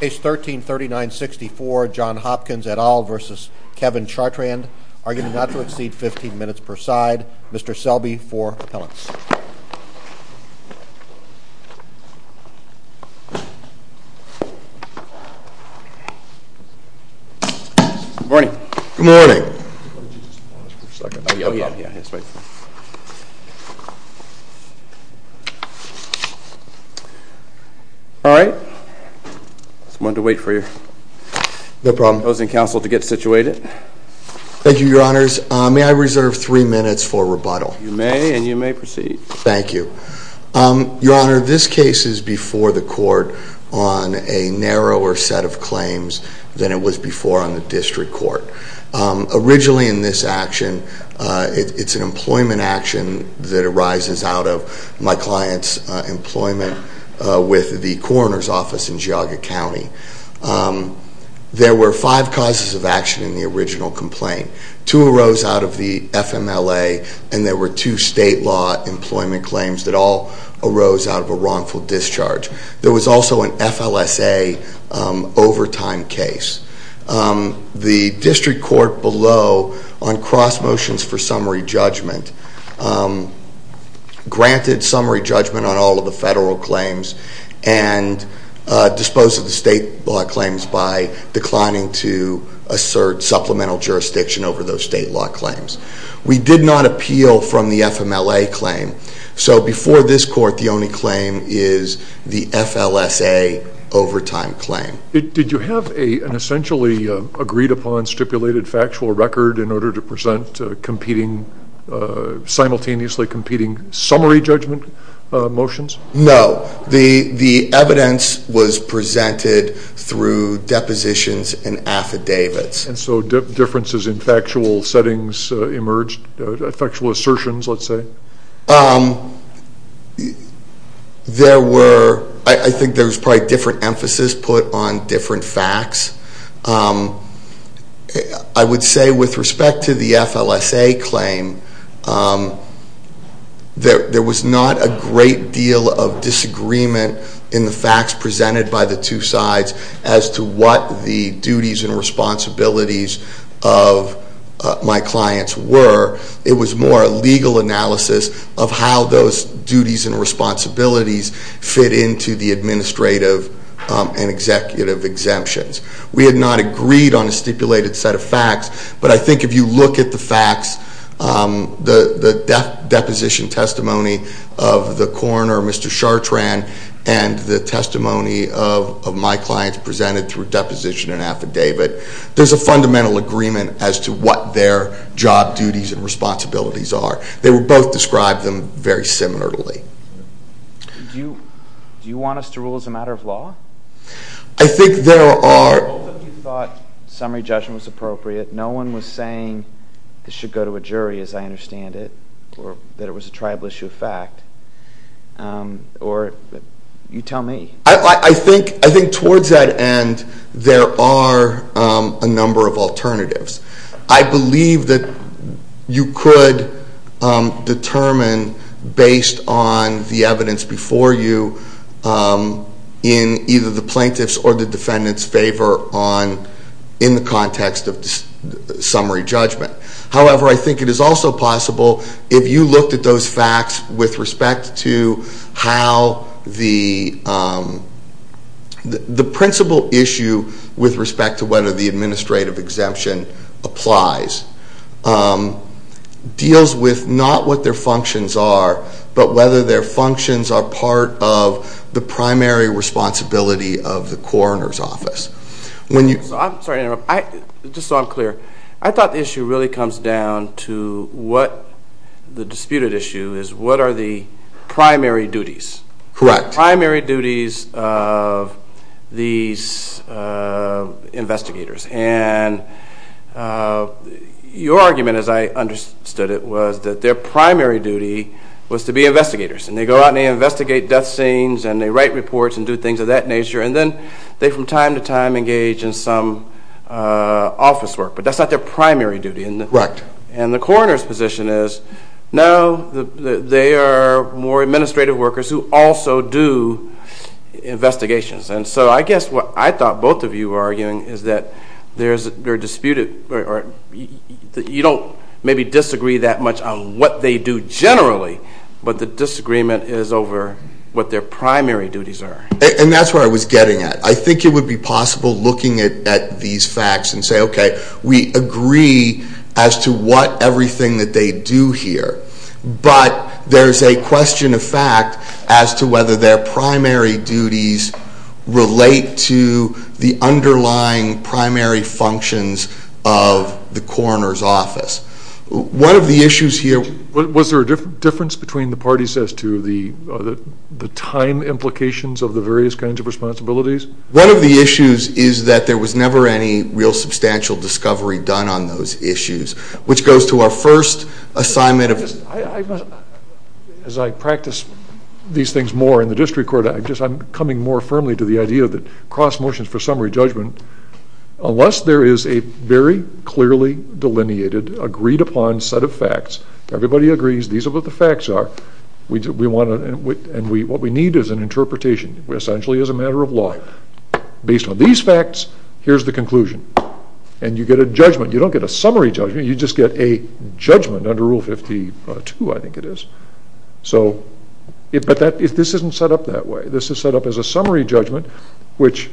Case 13-3964, John Hopkins et al. v. Kevin Chartrand. Arguing not to exceed 15 minutes per side. Mr. Selby for appellants. Good morning. Good morning. All right. I just wanted to wait for your opposing counsel to get situated. Thank you, your honors. May I reserve three minutes for rebuttal? You may, and you may proceed. Thank you. Your honor, this case is before the court on a narrower set of claims than it was before on the district court. Originally in this action, it's an employment action that arises out of my client's employment with the coroner's office in Geauga County. There were five causes of action in the original complaint. Two arose out of the FMLA, and there were two state law employment claims that all arose out of a wrongful discharge. There was also an FLSA overtime case. The district court below on cross motions for summary judgment granted summary judgment on all of the federal claims and disposed of the state law claims by declining to assert supplemental jurisdiction over those state law claims. We did not appeal from the FMLA claim. So before this court, the only claim is the FLSA overtime claim. Did you have an essentially agreed upon stipulated factual record in order to present competing, simultaneously competing summary judgment motions? No. The evidence was presented through depositions and affidavits. And so differences in factual settings emerged, factual assertions, let's say? There were, I think there was probably different emphasis put on different facts. I would say with respect to the FLSA claim, there was not a great deal of disagreement in the facts presented by the two sides as to what the duties and responsibilities of my clients were. It was more a legal analysis of how those duties and responsibilities fit into the administrative and executive exemptions. We had not agreed on a stipulated set of facts. But I think if you look at the facts, the deposition testimony of the coroner, Mr. Chartrand, and the testimony of my clients presented through deposition and affidavit. There's a fundamental agreement as to what their job duties and responsibilities are. They were both described very similarly. Do you want us to rule as a matter of law? I think there are... Although you thought summary judgment was appropriate, no one was saying it should go to a jury, as I understand it, or that it was a tribal issue of fact. Or you tell me. I think towards that end, there are a number of alternatives. I believe that you could determine, based on the evidence before you, in either the plaintiff's or the defendant's favor in the context of summary judgment. However, I think it is also possible, if you looked at those facts with respect to how the principal issue with respect to whether the administrative exemption applies, deals with not what their functions are, but whether their functions are part of the primary responsibility of the coroner's office. I'm sorry to interrupt. Just so I'm clear, I thought the issue really comes down to what the disputed issue is. What are the primary duties? Correct. Primary duties of these investigators. And your argument, as I understood it, was that their primary duty was to be investigators. And they go out and they investigate death scenes, and they write reports and do things of that nature. And then they, from time to time, engage in some office work. But that's not their primary duty. Right. And the coroner's position is, no, they are more administrative workers who also do investigations. And so I guess what I thought both of you were arguing is that you don't maybe disagree that much on what they do generally, but the disagreement is over what their primary duties are. And that's where I was getting at. I think it would be possible looking at these facts and say, okay, we agree as to what everything that they do here. But there's a question of fact as to whether their primary duties relate to the underlying primary functions of the coroner's office. One of the issues here. Was there a difference between the parties as to the time implications of the various kinds of responsibilities? One of the issues is that there was never any real substantial discovery done on those issues, which goes to our first assignment. As I practice these things more in the district court, I'm coming more firmly to the idea that cross motions for summary judgment, unless there is a very clearly delineated, agreed upon set of facts, everybody agrees these are what the facts are, and what we need is an interpretation, essentially as a matter of law. Based on these facts, here's the conclusion. And you get a judgment. You don't get a summary judgment, you just get a judgment under Rule 52, I think it is. But this isn't set up that way. This is set up as a summary judgment, which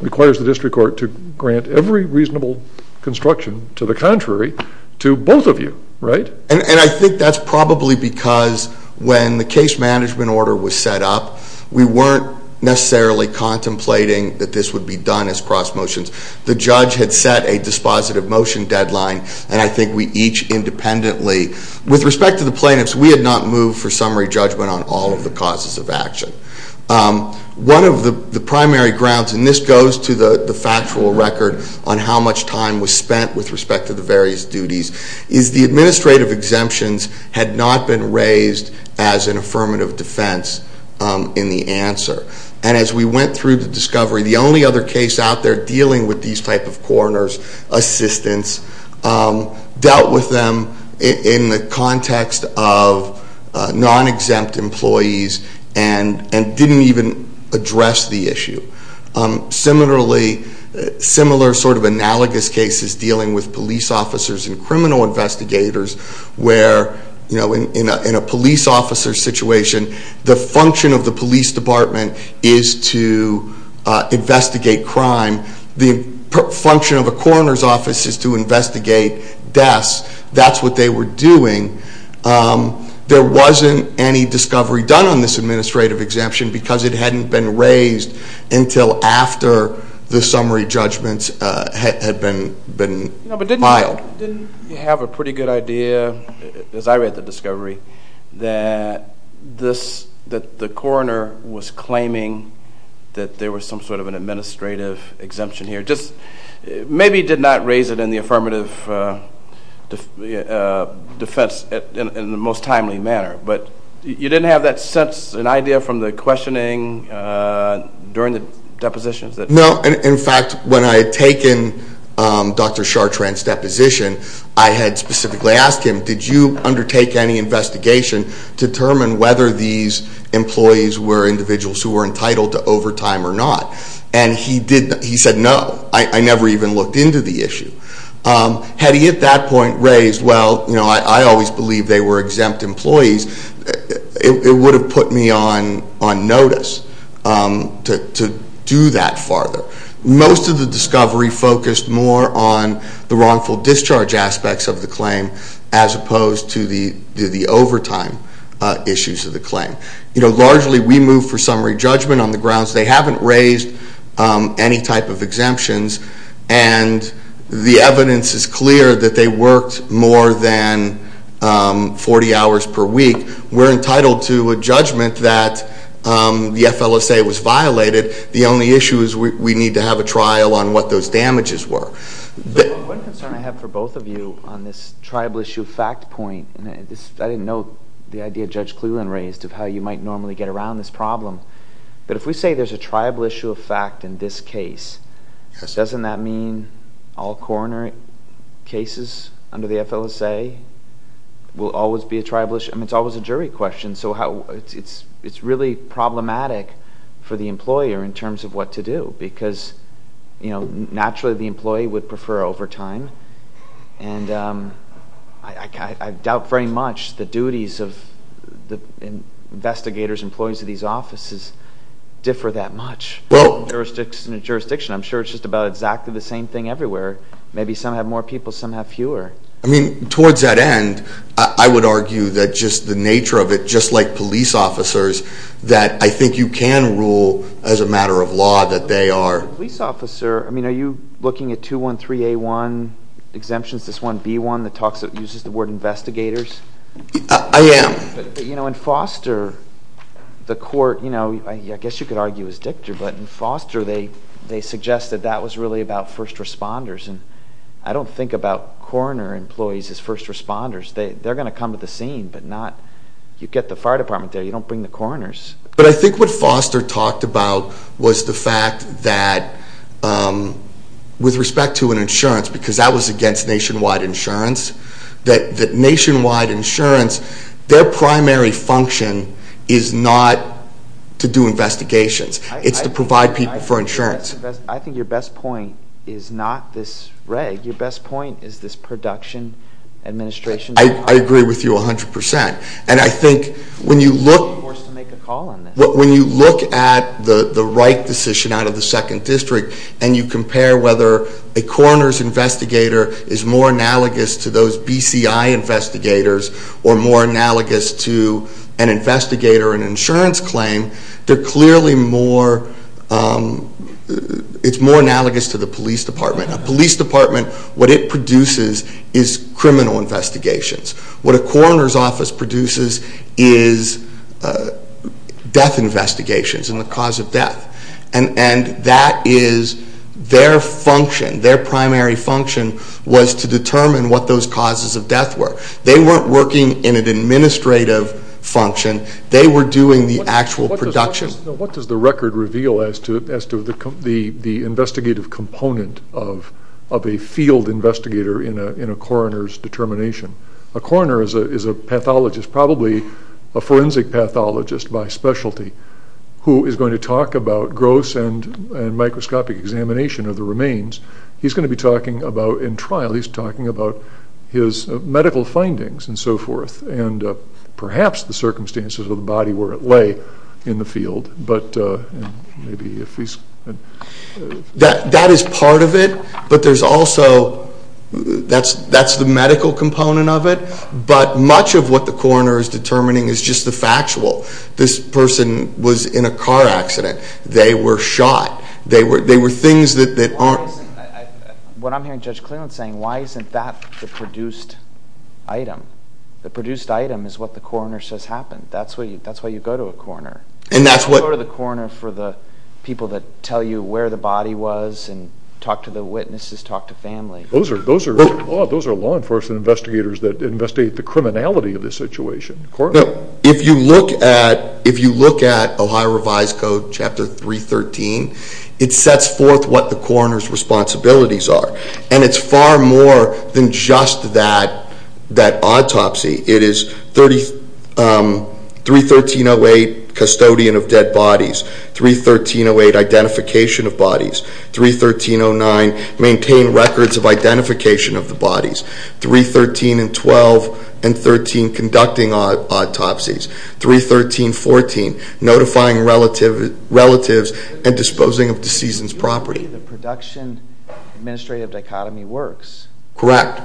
requires the district court to grant every reasonable construction to the contrary to both of you, right? And I think that's probably because when the case management order was set up, we weren't necessarily contemplating that this would be done as cross motions. The judge had set a dispositive motion deadline, and I think we each independently, with respect to the plaintiffs, we had not moved for summary judgment on all of the causes of action. One of the primary grounds, and this goes to the factual record on how much time was spent with respect to the various duties, is the administrative exemptions had not been raised as an affirmative defense in the answer. And as we went through the discovery, the only other case out there dealing with these type of coroner's assistance dealt with them in the context of non-exempt employees and didn't even address the issue. Similarly, similar sort of analogous cases dealing with police officers and criminal investigators, where in a police officer situation, the function of the police department is to investigate crime. The function of a coroner's office is to investigate deaths. That's what they were doing. There wasn't any discovery done on this administrative exemption because it hadn't been raised until after the summary judgments had been filed. But didn't you have a pretty good idea, as I read the discovery, that the coroner was claiming that there was some sort of an administrative exemption here? Just maybe did not raise it in the affirmative defense in the most timely manner, but you didn't have that sense, an idea from the questioning during the depositions? No, in fact, when I had taken Dr. Chartrand's deposition, I had specifically asked him, did you undertake any investigation to determine whether these employees were individuals who were entitled to overtime or not? And he said no. I never even looked into the issue. Had he at that point raised, well, I always believed they were exempt employees, it would have put me on notice to do that farther. Most of the discovery focused more on the wrongful discharge aspects of the claim, as opposed to the overtime issues of the claim. Largely, we moved for summary judgment on the grounds they haven't raised any type of exemptions. And the evidence is clear that they worked more than 40 hours per week. We're entitled to a judgment that the FLSA was violated. The only issue is we need to have a trial on what those damages were. One concern I have for both of you on this tribal issue fact point, and I didn't know the idea Judge Cleland raised of how you might normally get around this problem, but if we say there's a tribal issue of fact in this case, doesn't that mean all coronary cases under the FLSA will always be a tribal issue? I mean, it's always a jury question. So it's really problematic for the employer in terms of what to do, because naturally the employee would prefer overtime. And I doubt very much the duties of the investigators, employees of these offices, differ that much. In a jurisdiction, I'm sure it's just about exactly the same thing everywhere. Maybe some have more people, some have fewer. I mean, towards that end, I would argue that just the nature of it, just like police officers, that I think you can rule as a matter of law that they are. As a police officer, I mean, are you looking at 213A1 exemptions, this 1B1 that uses the word investigators? I am. You know, in Foster, the court, you know, I guess you could argue as Dictor, but in Foster they suggest that that was really about first responders. And I don't think about coroner employees as first responders. They're going to come to the scene, but you get the fire department there, you don't bring the coroners. But I think what Foster talked about was the fact that with respect to an insurance, because that was against nationwide insurance, that nationwide insurance, their primary function is not to do investigations. It's to provide people for insurance. I think your best point is not this reg. Your best point is this production administration. I agree with you 100%. And I think when you look at the right decision out of the second district and you compare whether a coroner's investigator is more analogous to those BCI investigators or more analogous to an investigator, an insurance claim, they're clearly more, it's more analogous to the police department. A police department, what it produces is criminal investigations. What a coroner's office produces is death investigations and the cause of death. And that is their function, their primary function, was to determine what those causes of death were. They weren't working in an administrative function. They were doing the actual production. What does the record reveal as to the investigative component of a field investigator in a coroner's determination? A coroner is a pathologist, probably a forensic pathologist by specialty, who is going to talk about gross and microscopic examination of the remains. He's going to be talking about, in trial, he's talking about his medical findings and so forth and perhaps the circumstances of the body where it lay in the field. That is part of it, but there's also, that's the medical component of it, but much of what the coroner is determining is just the factual. This person was in a car accident. They were shot. They were things that aren't... What I'm hearing Judge Cleland saying, why isn't that the produced item? The produced item is what the coroner says happened. That's why you go to a coroner. You go to the coroner for the people that tell you where the body was and talk to the witnesses, talk to family. Those are law enforcement investigators that investigate the criminality of the situation. If you look at Ohio Revised Code, Chapter 313, it sets forth what the coroner's responsibilities are, and it's far more than just that autopsy. It is 313-08, custodian of dead bodies, 313-08, identification of bodies, 313-09, maintain records of identification of the bodies, 313-12 and 13, conducting autopsies, 313-14, notifying relatives and disposing of deceased's property. The production-administrative dichotomy works. Correct.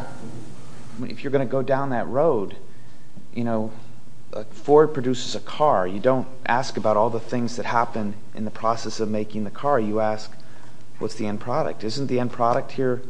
If you're going to go down that road, you know, Ford produces a car. You don't ask about all the things that happen in the process of making the car. You ask what's the end product. Isn't the end product here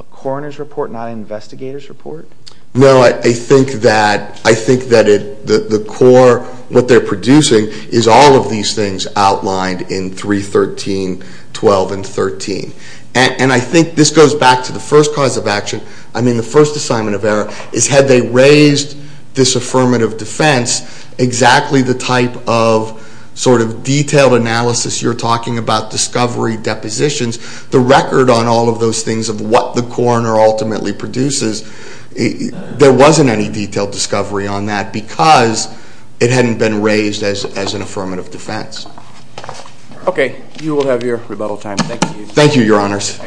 a coroner's report, not an investigator's report? No, I think that the core, what they're producing, is all of these things outlined in 313-12 and 13. And I think this goes back to the first cause of action. I mean, the first assignment of error is, had they raised this affirmative defense, exactly the type of sort of detailed analysis you're talking about, detailed discovery depositions, the record on all of those things of what the coroner ultimately produces, there wasn't any detailed discovery on that because it hadn't been raised as an affirmative defense. Okay. You will have your rebuttal time. Thank you. Thank you, Your Honors.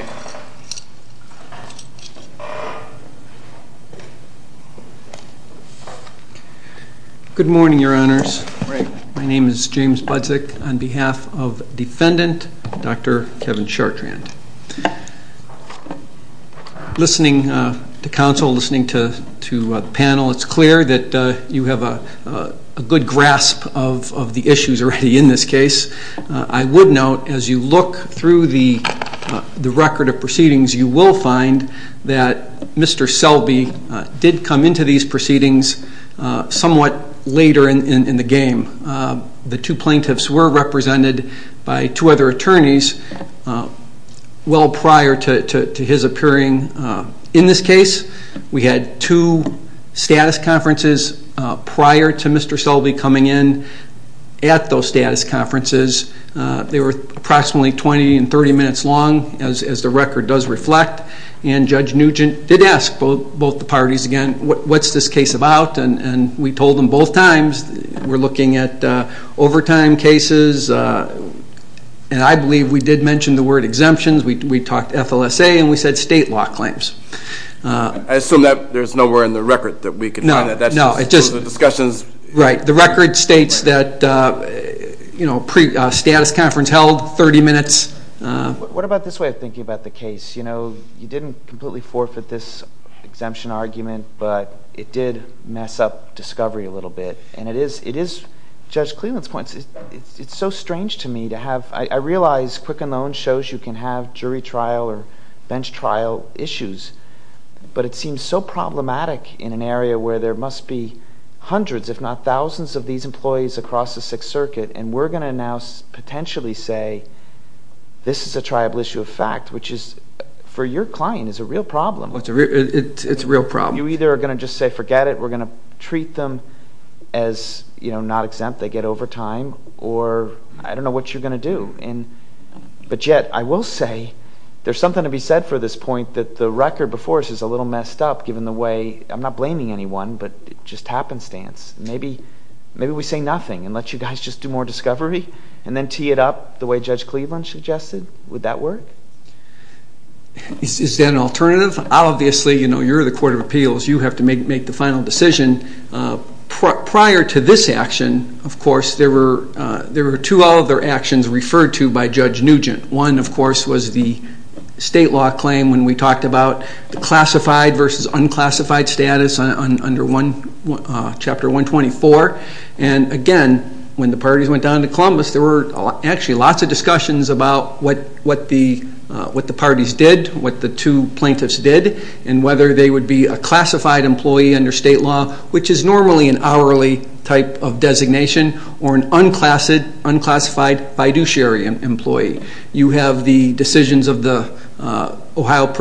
Good morning, Your Honors. Good morning. My name is James Budzik on behalf of Defendant Dr. Kevin Chartrand. Listening to counsel, listening to the panel, it's clear that you have a good grasp of the issues already in this case. I would note, as you look through the record of proceedings, you will find that Mr. Selby did come into these proceedings somewhat later in the game. The two plaintiffs were represented by two other attorneys well prior to his appearing in this case. We had two status conferences prior to Mr. Selby coming in at those status conferences. They were approximately 20 and 30 minutes long, as the record does reflect, and Judge Nugent did ask both the parties again, what's this case about, and we told them both times we're looking at overtime cases, and I believe we did mention the word exemptions. We talked FLSA, and we said state law claims. I assume that there's nowhere in the record that we can find that. No, no. Right. The record states that a status conference held 30 minutes. What about this way of thinking about the case? You know, you didn't completely forfeit this exemption argument, but it did mess up discovery a little bit, and it is, Judge Cleveland's point, it's so strange to me to have, I realize Quicken Loan shows you can have jury trial or bench trial issues, but it seems so problematic in an area where there must be hundreds, if not thousands, of these employees across the Sixth Circuit, and we're going to now potentially say this is a tribal issue of fact, which is, for your client, is a real problem. It's a real problem. You either are going to just say forget it, we're going to treat them as not exempt, they get overtime, or I don't know what you're going to do, but yet I will say there's something to be said for this point that the record before us is a little messed up given the way, I'm not blaming anyone, but just happenstance. Maybe we say nothing and let you guys just do more discovery and then tee it up the way Judge Cleveland suggested. Would that work? Is that an alternative? Obviously, you know, you're the Court of Appeals. You have to make the final decision. Prior to this action, of course, there were two other actions referred to by Judge Nugent. One, of course, was the state law claim when we talked about the classified versus unclassified status under Chapter 124. And again, when the parties went down to Columbus, there were actually lots of discussions about what the parties did, what the two plaintiffs did, and whether they would be a classified employee under state law, which is normally an hourly type of designation, or an unclassified fiduciary employee. You have the decisions of the Ohio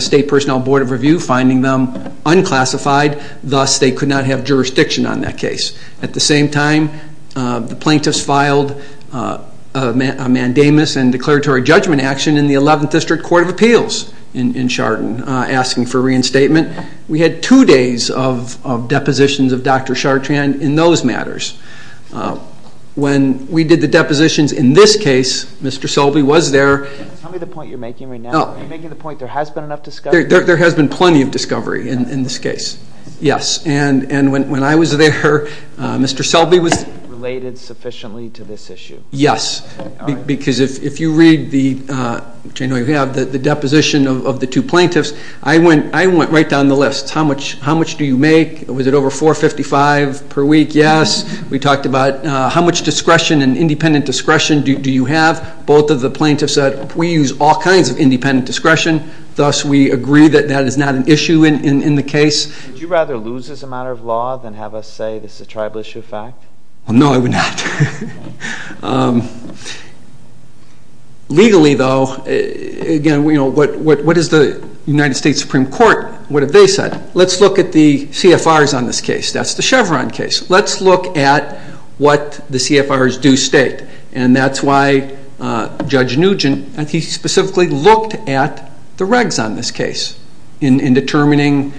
State Personnel Board of Review finding them unclassified. Thus, they could not have jurisdiction on that case. At the same time, the plaintiffs filed a mandamus and declaratory judgment action in the 11th District Court of Appeals in Chardon asking for reinstatement. We had two days of depositions of Dr. Chartrand in those matters. When we did the depositions in this case, Mr. Selby was there. Tell me the point you're making right now. Are you making the point there has been enough discovery? There has been plenty of discovery in this case, yes. And when I was there, Mr. Selby was... Related sufficiently to this issue. Yes, because if you read the deposition of the two plaintiffs, I went right down the list. How much do you make? Was it over $455 per week? Yes. We talked about how much discretion and independent discretion do you have? Both of the plaintiffs said, we use all kinds of independent discretion. Thus, we agree that that is not an issue in the case. Would you rather lose this as a matter of law than have us say this is a tribal issue of fact? No, I would not. Legally, though, what is the United States Supreme Court? What have they said? Let's look at the CFRs on this case. That's the Chevron case. Let's look at what the CFRs do state. And that's why Judge Nugent, he specifically looked at the regs on this case in determining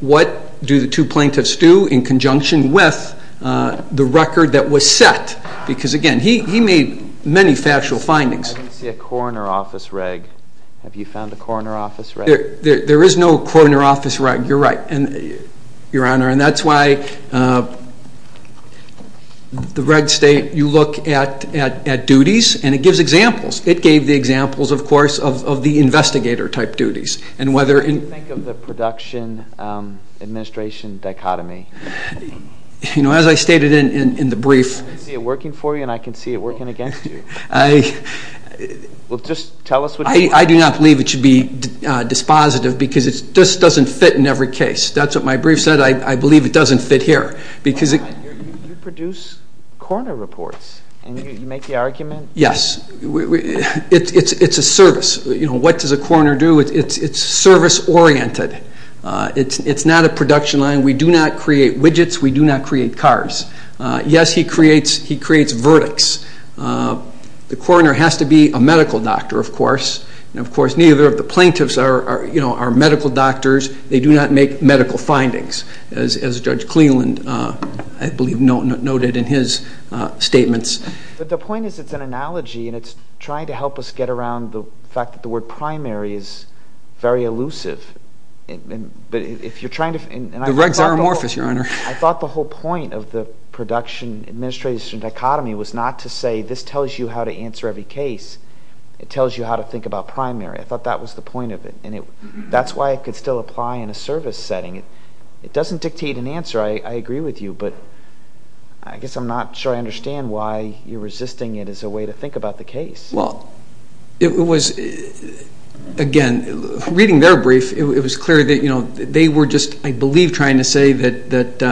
what do the two plaintiffs do in conjunction with the record that was set. Because, again, he made many factual findings. I didn't see a coroner office reg. Have you found a coroner office reg? There is no coroner office reg. You're right, Your Honor. And that's why the reg state, you look at duties, and it gives examples. It gave the examples, of course, of the investigator-type duties. What do you think of the production-administration dichotomy? As I stated in the brief. I can see it working for you, and I can see it working against you. I do not believe it should be dispositive because it just doesn't fit in every case. That's what my brief said. I believe it doesn't fit here. You produce coroner reports, and you make the argument? Yes. It's a service. What does a coroner do? It's service-oriented. It's not a production line. We do not create widgets. We do not create cars. Yes, he creates verdicts. The coroner has to be a medical doctor, of course. And, of course, neither of the plaintiffs are medical doctors. They do not make medical findings, as Judge Cleland, I believe, noted in his statements. But the point is it's an analogy, and it's trying to help us get around the fact that the word primary is very elusive. The regs are amorphous, Your Honor. I thought the whole point of the production-administration dichotomy was not to say this tells you how to answer every case. It tells you how to think about primary. I thought that was the point of it, and that's why it could still apply in a service setting. It doesn't dictate an answer. I agree with you. But I guess I'm not sure I understand why you're resisting it as a way to think about the case. Well, it was, again, reading their brief, it was clear that they were just, I believe, trying to say that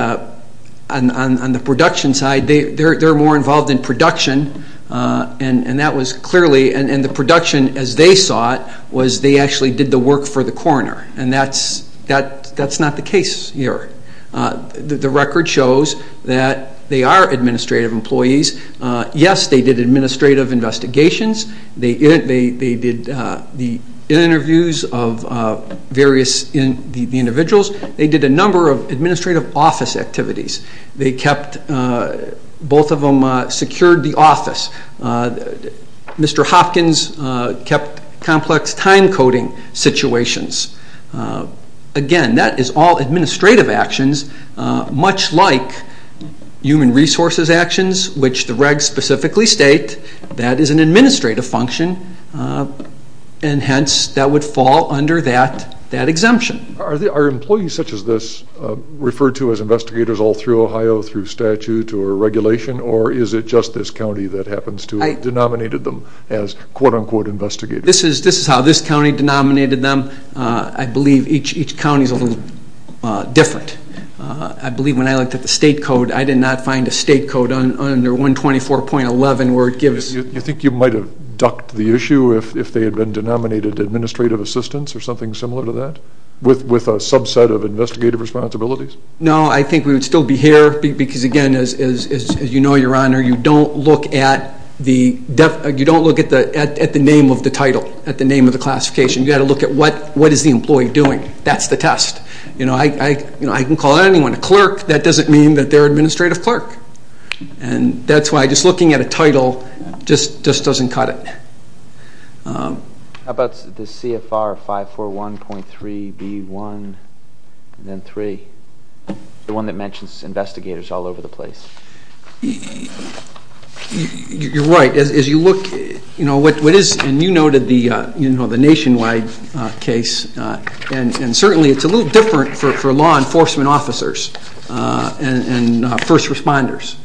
on the production side, they're more involved in production, and that was clearly, and the production, as they saw it, was they actually did the work for the coroner, and that's not the case here. The record shows that they are administrative employees. Yes, they did administrative investigations. They did the interviews of various individuals. They did a number of administrative office activities. They kept, both of them secured the office. Mr. Hopkins kept complex time-coding situations. Again, that is all administrative actions, much like human resources actions, which the regs specifically state that is an administrative function, and hence that would fall under that exemption. Are employees such as this referred to as investigators all through Ohio through statute or regulation, or is it just this county that happens to have denominated them as quote-unquote investigators? This is how this county denominated them. I believe each county is a little different. I believe when I looked at the state code, I did not find a state code under 124.11 where it gives. Do you think you might have ducked the issue if they had been denominated administrative assistants or something similar to that with a subset of investigative responsibilities? No, I think we would still be here because, again, as you know, Your Honor, you don't look at the name of the title, at the name of the classification. You've got to look at what is the employee doing. That's the test. I can call anyone a clerk. That doesn't mean that they're an administrative clerk. That's why just looking at a title just doesn't cut it. How about the CFR 541.3b1 and then 3, the one that mentions investigators all over the place? You're right. As you look, you know, what is, and you noted the nationwide case, and certainly it's a little different for law enforcement officers and first responders.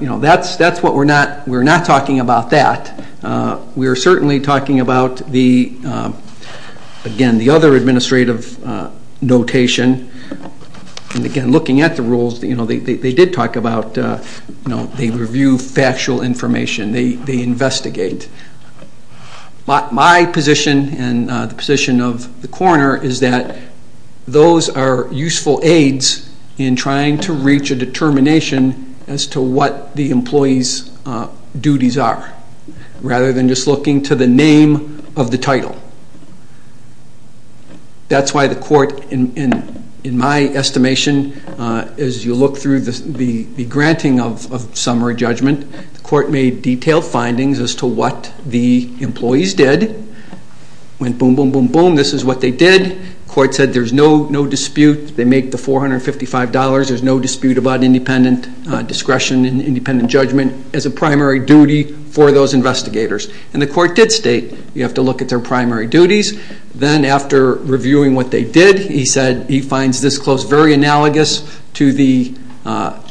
You know, that's what we're not talking about that. We are certainly talking about the, again, the other administrative notation. And, again, looking at the rules, you know, they did talk about, you know, they review factual information, they investigate. My position and the position of the coroner is that those are useful aids in trying to reach a determination as to what the employee's duties are rather than just looking to the name of the title. That's why the court, in my estimation, as you look through the granting of summary judgment, the court made detailed findings as to what the employees did. Went boom, boom, boom, boom. This is what they did. The court said there's no dispute. They make the $455. There's no dispute about independent discretion and independent judgment as a primary duty for those investigators. And the court did state you have to look at their primary duties. Then after reviewing what they did, he said he finds this close, very analogous to the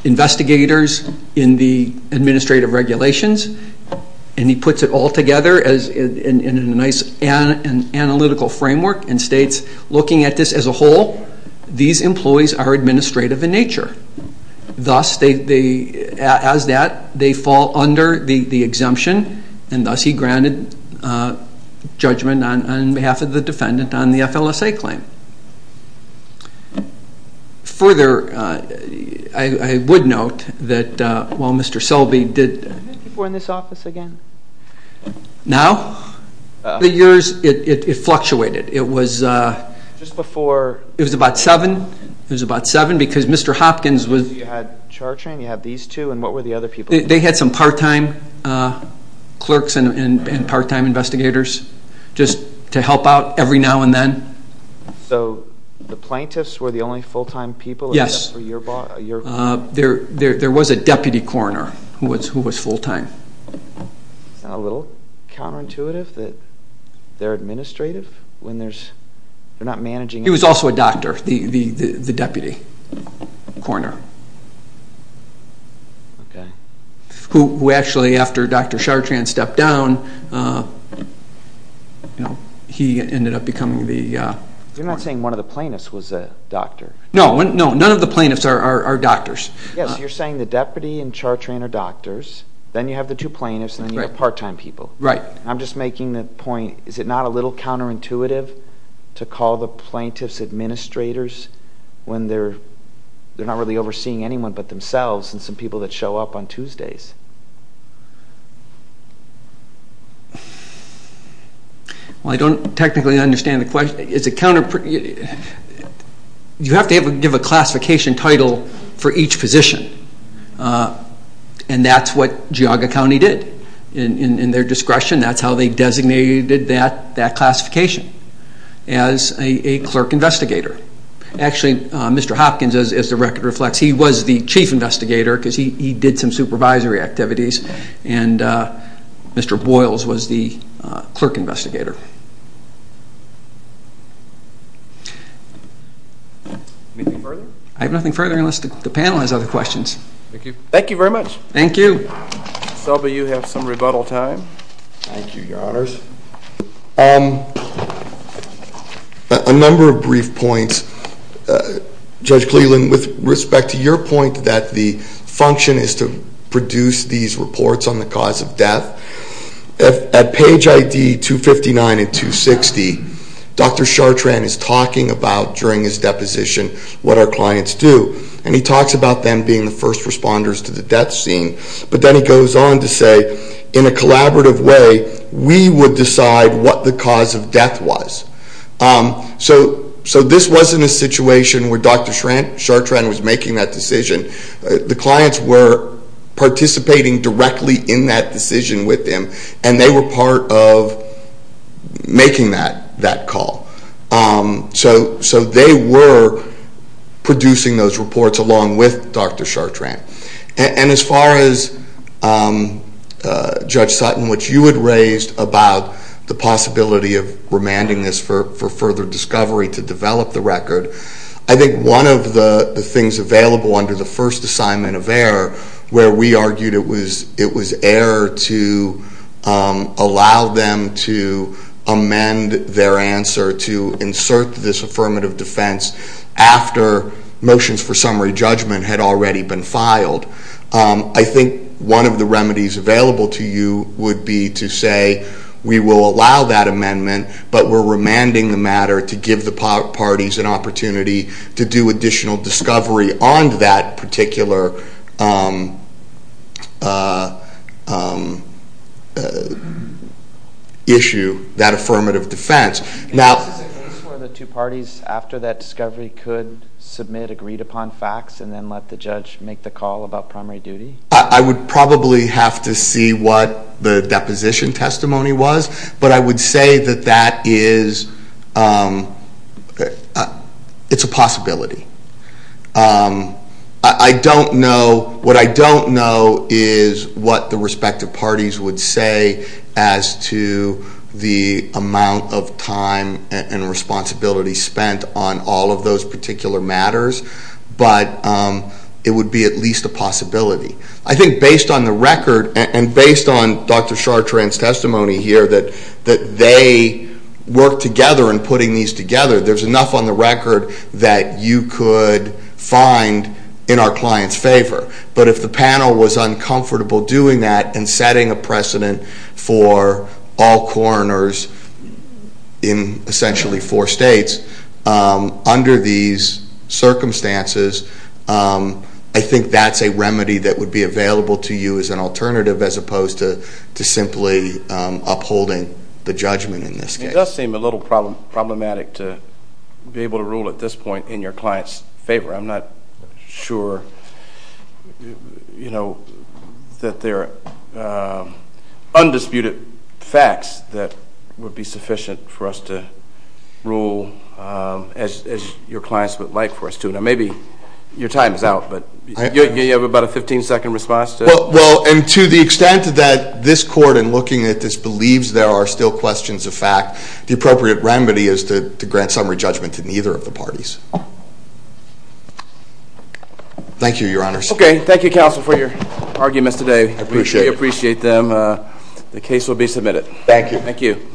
investigators in the administrative regulations. And he puts it all together in a nice analytical framework and states, looking at this as a whole, these employees are administrative in nature. Thus, as that, they fall under the exemption, and thus he granted judgment on behalf of the defendant on the FLSA claim. Further, I would note that while Mr. Selby did... Just before... It was about 7. It was about 7 because Mr. Hopkins was... So you had Chartrand, you had these two, and what were the other people? They had some part-time clerks and part-time investigators just to help out every now and then. So the plaintiffs were the only full-time people? Yes. For your... There was a deputy coroner who was full-time. Is that a little counterintuitive that they're administrative when they're not managing... He was also a doctor, the deputy coroner, who actually, after Dr. Chartrand stepped down, he ended up becoming the coroner. You're not saying one of the plaintiffs was a doctor? No, none of the plaintiffs are doctors. Yes, you're saying the deputy and Chartrand are doctors, then you have the two plaintiffs, and then you have part-time people. Right. I'm just making the point, is it not a little counterintuitive to call the plaintiffs administrators when they're not really overseeing anyone but themselves and some people that show up on Tuesdays? Well, I don't technically understand the question. It's a counter... You have to give a classification title for each position, and that's what Geauga County did in their discretion. That's how they designated that classification, as a clerk investigator. Actually, Mr. Hopkins, as the record reflects, he was the chief investigator because he did some supervisory activities, and Mr. Boyles was the clerk investigator. Anything further? I have nothing further unless the panel has other questions. Thank you. Thank you very much. Thank you. Selby, you have some rebuttal time. Thank you, Your Honors. A number of brief points. Judge Cleveland, with respect to your point that the function is to produce these reports on the cause of death, at page ID 259 and 260, Dr. Chartrand is talking about, during his deposition, what our clients do, and he talks about them being the first responders to the death scene, but then he goes on to say, in a collaborative way, we would decide what the cause of death was. So this wasn't a situation where Dr. Chartrand was making that decision. The clients were participating directly in that decision with him, and they were part of making that call. So they were producing those reports along with Dr. Chartrand. And as far as Judge Sutton, what you had raised about the possibility of remanding this for further discovery to develop the record, I think one of the things available under the first assignment of error, where we argued it was error to allow them to amend their answer to insert this affirmative defense after motions for summary judgment had already been filed, I think one of the remedies available to you would be to say, we will allow that amendment, but we're remanding the matter to give the parties an opportunity to do additional discovery on that particular issue, that affirmative defense. Now- Is this a case where the two parties, after that discovery, could submit agreed upon facts and then let the judge make the call about primary duty? I would probably have to see what the deposition testimony was, but I would say that that is, it's a possibility. I don't know, what I don't know is what the respective parties would say as to the amount of time and responsibility spent on all of those particular matters, but it would be at least a possibility. I think based on the record, and based on Dr. Chartrand's testimony here, that they work together in putting these together, there's enough on the record that you could find in our client's favor. But if the panel was uncomfortable doing that and setting a precedent for all coroners in essentially four states, under these circumstances, I think that's a remedy that would be available to you as an alternative, as opposed to simply upholding the judgment in this case. It does seem a little problematic to be able to rule at this point in your client's favor. I'm not sure that there are undisputed facts that would be sufficient for us to rule as your clients would like for us to. Now maybe your time is out, but you have about a 15-second response to it? Well, and to the extent that this Court, in looking at this, believes there are still questions of fact, the appropriate remedy is to grant summary judgment to neither of the parties. Thank you, Your Honors. Okay. Thank you, Counsel, for your arguments today. I appreciate it. We appreciate them. The case will be submitted. Thank you. Thank you.